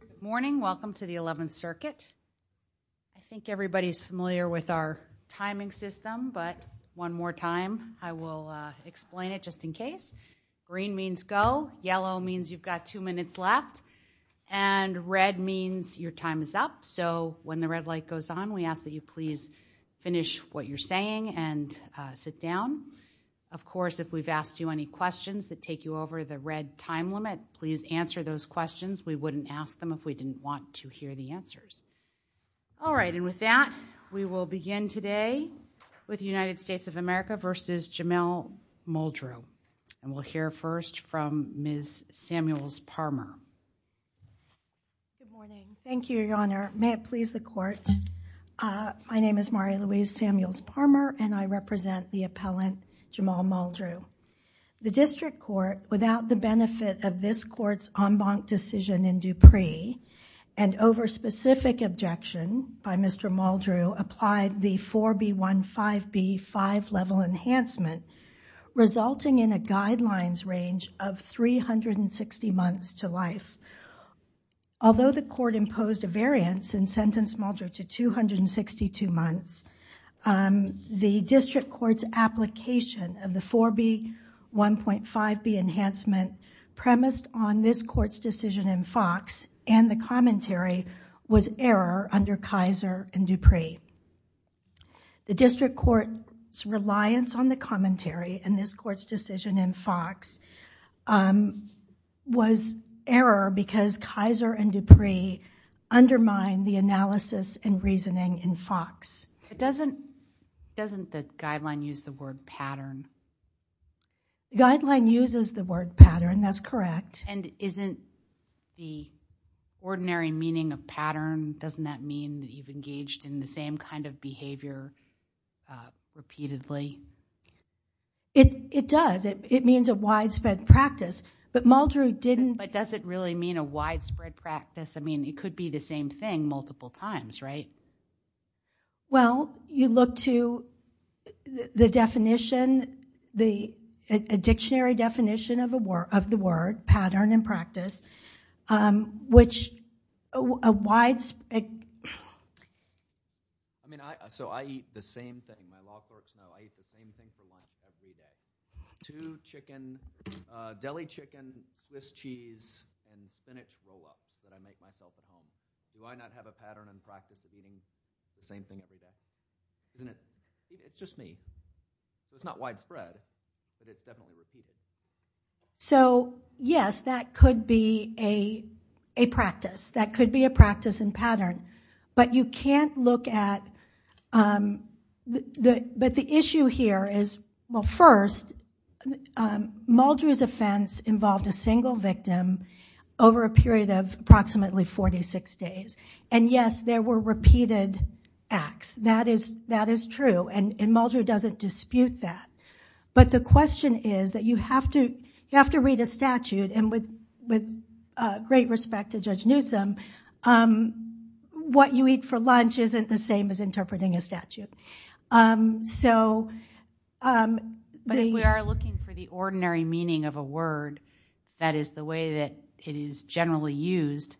Good morning, welcome to the 11th circuit. I think everybody's familiar with our timing system but one more time I will explain it just in case. Green means go, yellow means you've got two minutes left, and red means your time is up. So when the red light goes on we ask that you please finish what you're saying and sit down. Of course if we've asked you any questions that take you over the red time limit, please answer those questions. We wouldn't ask them if we didn't want to hear the answers. All right and with that we will begin today with the United States of America versus Jamel Muldrew and we'll hear first from Ms. Samuels Parmer. Thank you, your honor. May it please the court. My name is Mari-Louise Samuels Parmer and I represent the appellant Jamel Muldrew. The district court without the benefit of this court's en banc decision in Dupree and over specific objection by Mr. Muldrew applied the 4B15B5 level enhancement resulting in a guidelines range of 360 months to life. Although the court imposed a variance in sentence Muldrew to 262 months, the 4B15B5 enhancement premised on this court's decision in Fox and the commentary was error under Kaiser and Dupree. The district court's reliance on the commentary in this court's decision in Fox was error because Kaiser and Dupree doesn't doesn't the guideline use the word pattern? Guideline uses the word pattern that's correct. And isn't the ordinary meaning of pattern doesn't that mean you've engaged in the same kind of behavior repeatedly? It does it means a widespread practice but Muldrew didn't. But does it really mean a widespread practice? I mean it could be the same thing multiple times right? Well you look to the definition the dictionary definition of a word of the word pattern and practice which a wide I mean I so I eat the same thing I eat the same thing for lunch every day. Two chicken, deli chicken, Swiss cheese, and spinach roll-up that I make myself at home. Do I not have a pattern and practice of eating the same thing every day? It's just me. It's not widespread. So yes that could be a a practice that could be But the issue here is well first Muldrew's offense involved a single victim over a period of approximately 46 days and yes there were repeated acts that is that is true and Muldrew doesn't dispute that. But the question is that you have to you have to read a statute and with with great respect to Judge interpreting a statute. So we are looking for the ordinary meaning of a word that is the way that it is generally used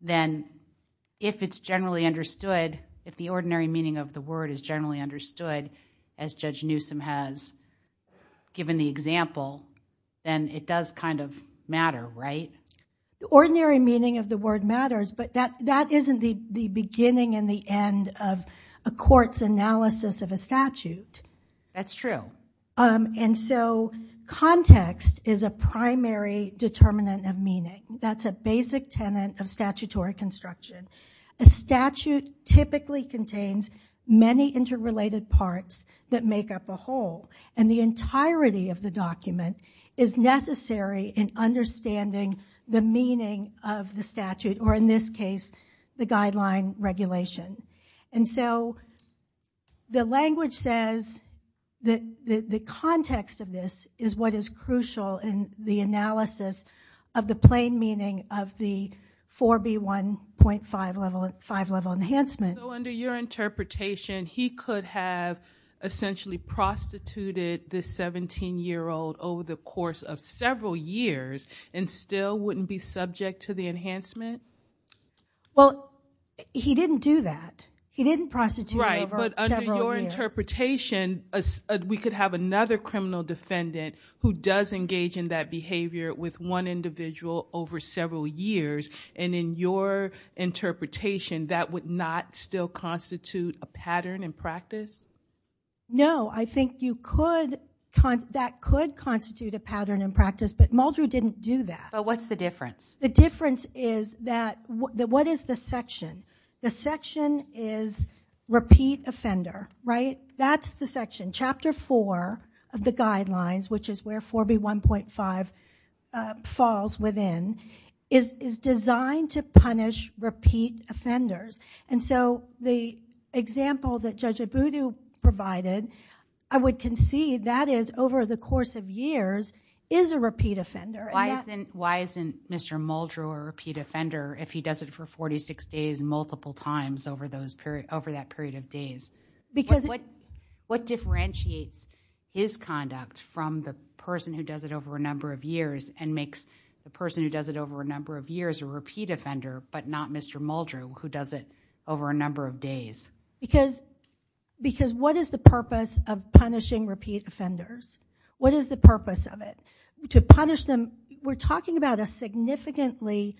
then if it's generally understood if the ordinary meaning of the word is generally understood as Judge Newsom has given the example then it does kind of matter right? Ordinary meaning of the end of a court's analysis of a statute. That's true. And so context is a primary determinant of meaning. That's a basic tenant of statutory construction. A statute typically contains many interrelated parts that make up a whole and the entirety of the document is necessary in understanding the meaning of the statute or in this case the guideline regulation. And so the language says that the context of this is what is crucial in the analysis of the plain meaning of the 4B1.5 level enhancement. So under your interpretation he could have essentially prostituted this 17-year-old over the course of several years and still wouldn't be subject to the enhancement? Well he didn't do that. He didn't prostitute him over several years. Right, but under your interpretation we could have another criminal defendant who does engage in that behavior with one individual over several years and in your interpretation that would not still constitute a pattern in practice? No, I think you could, that could constitute a pattern in practice but Muldrew didn't do that. But what's the difference? The difference is that what is the section? The section is repeat offender, right? That's the section. Chapter 4 of the guidelines, which is where 4B1.5 falls within, is designed to punish repeat offenders. And so the example that Judge Abudu provided, I would concede that is, over the course of years, is a repeat offender. Why isn't Mr. Muldrew a repeat offender if he does it for 46 days multiple times over that period of days? What differentiates his conduct from the person who does it over a number of years and makes the person who does it over a number of years a repeat offender but not Mr. Muldrew who does it over a number of days? Because what is the purpose of punishing repeat offenders? What is the purpose of it? To punish them, we're talking about a significantly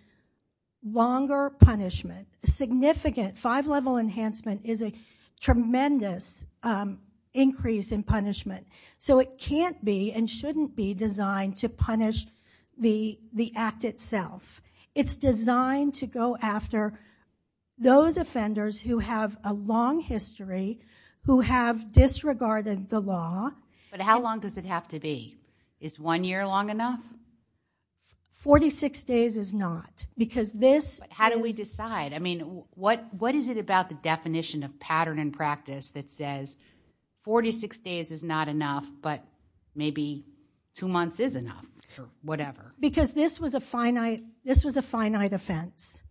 longer punishment. Significant five-level enhancement is a tremendous increase in punishment. So it can't be and shouldn't be designed to punish the the act itself. It's designed to go after those offenders who have a But how long does it have to be? Is one year long enough? 46 days is not because this... How do we decide? I mean what what is it about the definition of pattern and practice that says 46 days is not enough but maybe two months is enough or whatever? Because this was a finite, this was a finite offense.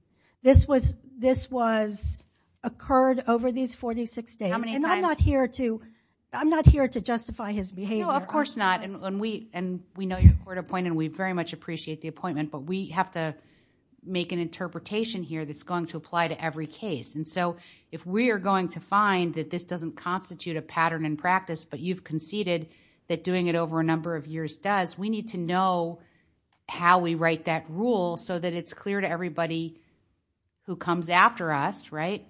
This was, this was occurred over these 46 days and I'm not here to, I'm not here to justify his behavior. No, of course not and when we and we know you're court-appointed and we very much appreciate the appointment but we have to make an interpretation here that's going to apply to every case and so if we are going to find that this doesn't constitute a pattern and practice but you've conceded that doing it over a number of years does, we need to know how we write that rule so that it's clear to everybody who comes after us right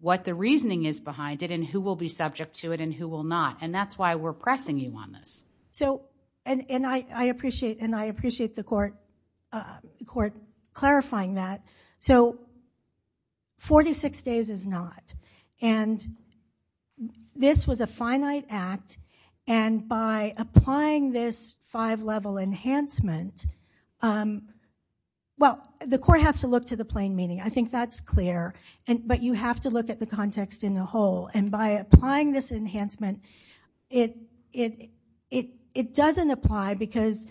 what the reasoning is behind it and who will be subject to it and who will not and that's why we're pressing you on this. So and I appreciate and I appreciate the court court clarifying that so 46 days is not and this was a finite act and by applying this five level enhancement, well the court has to look to the plain meaning. I think that's clear and but you have to look at the context in the whole and by applying this enhancement it, it, it, it doesn't apply because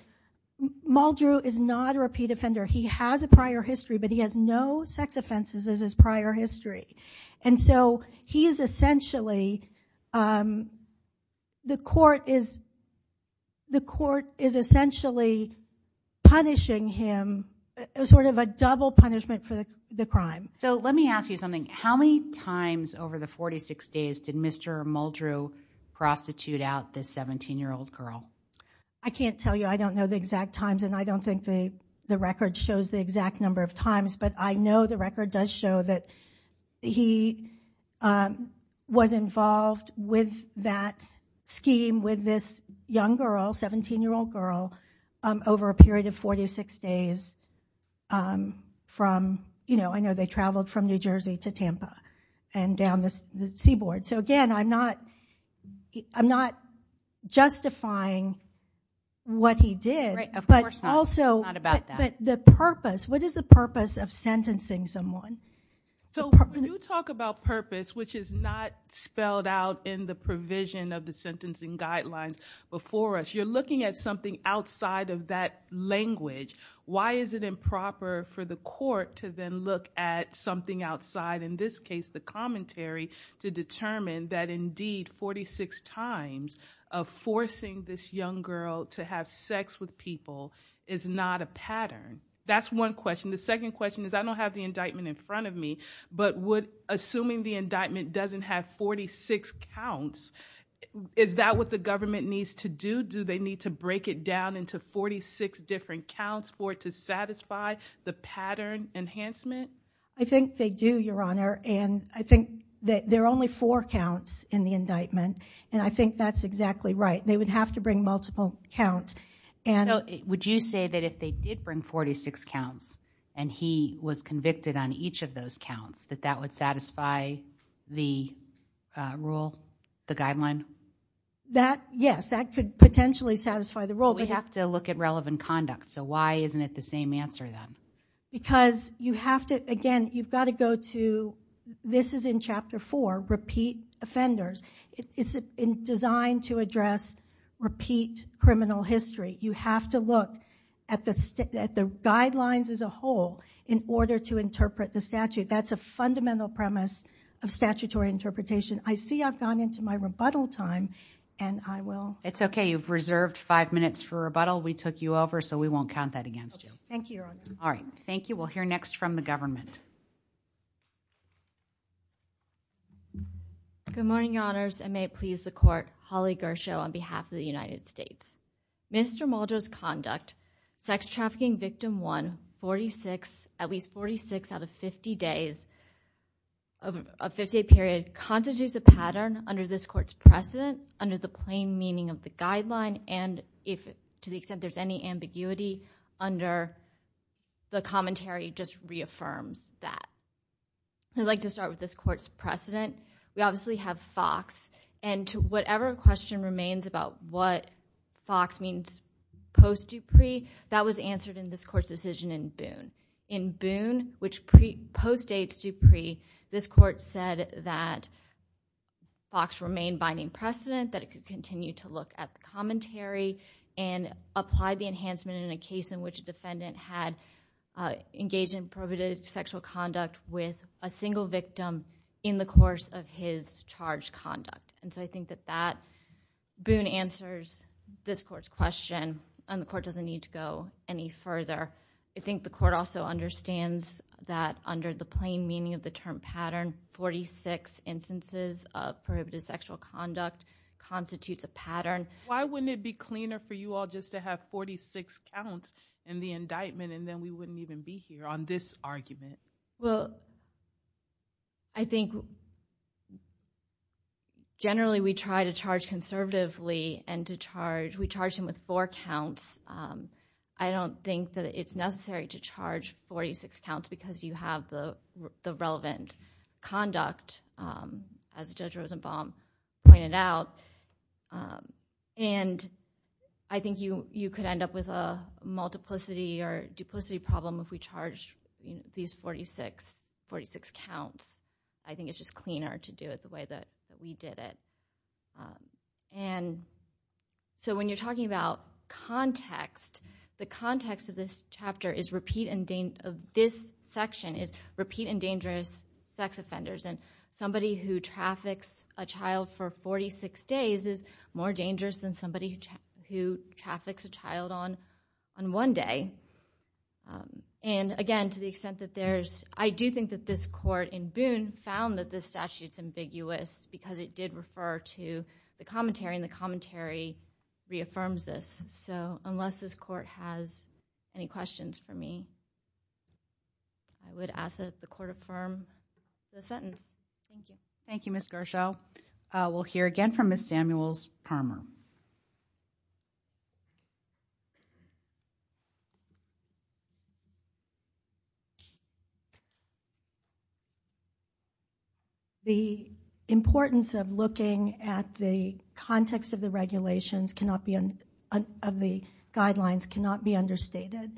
Muldrew is not a repeat offender. He has a prior history but he has no sex offenses as his prior history and so he is essentially, the court is, the court is essentially punishing him sort of a double punishment for the crime. So let me ask you something, how many times over the 46 days did Mr. Muldrew prostitute out this 17 year old girl? I can't tell you, I don't know the exact times and I don't think the, the record does show that he was involved with that scheme with this young girl, 17 year old girl, over a period of 46 days from, you know, I know they traveled from New Jersey to Tampa and down the seaboard. So again, I'm not, I'm not justifying what he did but also, but the purpose, what is the purpose of someone? So when you talk about purpose, which is not spelled out in the provision of the sentencing guidelines before us, you're looking at something outside of that language. Why is it improper for the court to then look at something outside, in this case the commentary, to determine that indeed 46 times of forcing this young girl to have sex with people is not a pattern? That's one question. The indictment in front of me, but would, assuming the indictment doesn't have 46 counts, is that what the government needs to do? Do they need to break it down into 46 different counts for it to satisfy the pattern enhancement? I think they do, Your Honor, and I think that there are only four counts in the indictment and I think that's exactly right. They would have to bring multiple counts and So would you say that if they did bring 46 counts and he was convicted on each of those counts, that that would satisfy the rule, the guideline? That, yes, that could potentially satisfy the rule. We have to look at relevant conduct, so why isn't it the same answer then? Because you have to, again, you've got to go to, this is in Chapter 4, repeat offenders. It's designed to address repeat criminal history. You have to look at the guidelines as a whole in order to interpret the statute. That's a fundamental premise of statutory interpretation. I see I've gone into my rebuttal time and I will. It's okay. You've reserved five minutes for rebuttal. We took you over, so we won't count that against you. Thank you. All right. Thank you. We'll hear next from the government. Good morning, Your Honors. I may please the court. Holly Gershow on behalf of the United States. Mr. Maldo's conduct, sex trafficking victim one, 46, at least 46 out of 50 days, of a 50-day period, constitutes a pattern under this court's precedent, under the plain meaning of the guideline, and if, to the extent there's any ambiguity under the commentary, just reaffirms that. I'd like to start with this court's precedent. We obviously have Fox, and to whatever question remains about what Fox means post Dupree, that was answered in this court's decision in Boone. In Boone, which postdates Dupree, this court said that Fox remained binding precedent, that it could continue to look at the commentary and apply the enhancement in a case in which a defendant had engaged in prohibited sexual conduct with a single victim in the course of his charged conduct, and so I think that that, Boone answers this court's question, and the court doesn't need to go any further. I think the court also understands that under the plain meaning of the term pattern, 46 instances of prohibited sexual conduct constitutes a pattern. Why wouldn't it be cleaner for you all just to have 46 counts in the indictment, and then we wouldn't even be here on this argument? Well, I think generally we try to charge conservatively, and to charge, we charge him with four counts. I don't think that it's necessary to charge 46 counts because you have the relevant conduct, as Judge Rosenbaum pointed out, and I think you could end up with a multiplicity or duplicity problem if we charged these 46 counts. I think it's just cleaner to do it the way that we did it, and so when you're talking about context, the context of this chapter is repeat and dangerous, of this section is repeat and dangerous sex offenders, and somebody who traffics a child for 46 days is more dangerous than somebody who traffics a child. I do think that this court in Boone found that this statute's ambiguous because it did refer to the commentary, and the commentary reaffirms this, so unless this court has any questions for me, I would ask that the court affirm the sentence. Thank you, Ms. Gershow. We'll hear again from Ms. Samuels- Parmer. The importance of looking at the context of the regulations cannot be, of the guidelines cannot be understated,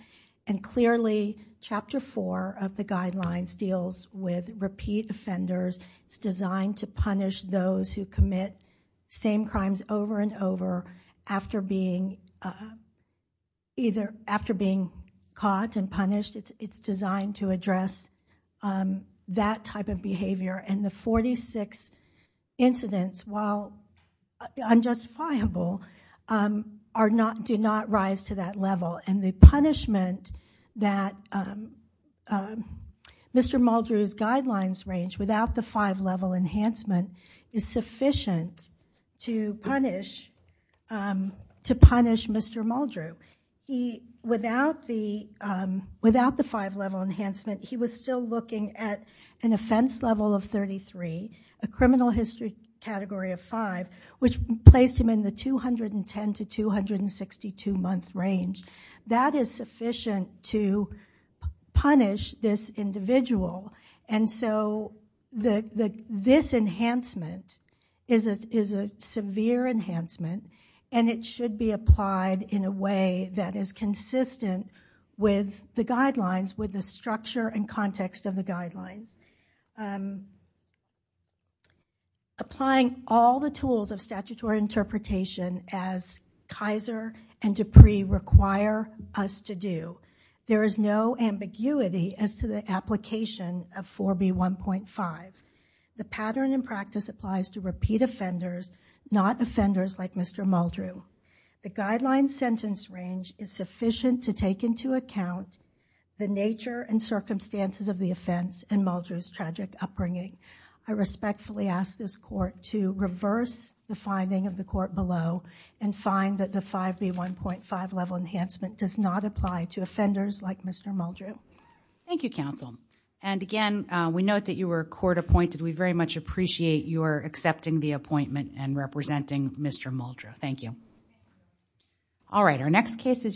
and clearly Chapter 4 of the guidelines deals with repeat offenders. It's designed to punish those who commit same crimes over and over after being either after being caught and punished. It's designed to address that type of behavior, and the 46 incidents, while unjustifiable, do not rise to that level, and the punishment that Mr. Muldrew's guidelines range without the five-level enhancement is sufficient to still looking at an offense level of 33, a criminal history category of 5, which placed him in the 210 to 262 month range. That is sufficient to punish this individual, and so this enhancement is a severe enhancement, and it should be applied in a way that is consistent with the guidelines, with the structure and context of the guidelines. Applying all the tools of statutory interpretation as Kaiser and Dupree require us to do, there is no ambiguity as to the application of 4B1.5. The pattern in practice applies to repeat offenders, not offenders like Mr. Muldrew. The guidelines sentence range is sufficient to take into account the nature and circumstances of the offense and Muldrew's tragic upbringing. I respectfully ask this court to reverse the finding of the court below, and find that the 5B1.5 level enhancement does not apply to offenders like Mr. Muldrew. Thank you, counsel. Again, we note that you were court appointed. We very much appreciate your accepting the appointment and representing Mr. Muldrew. Thank you.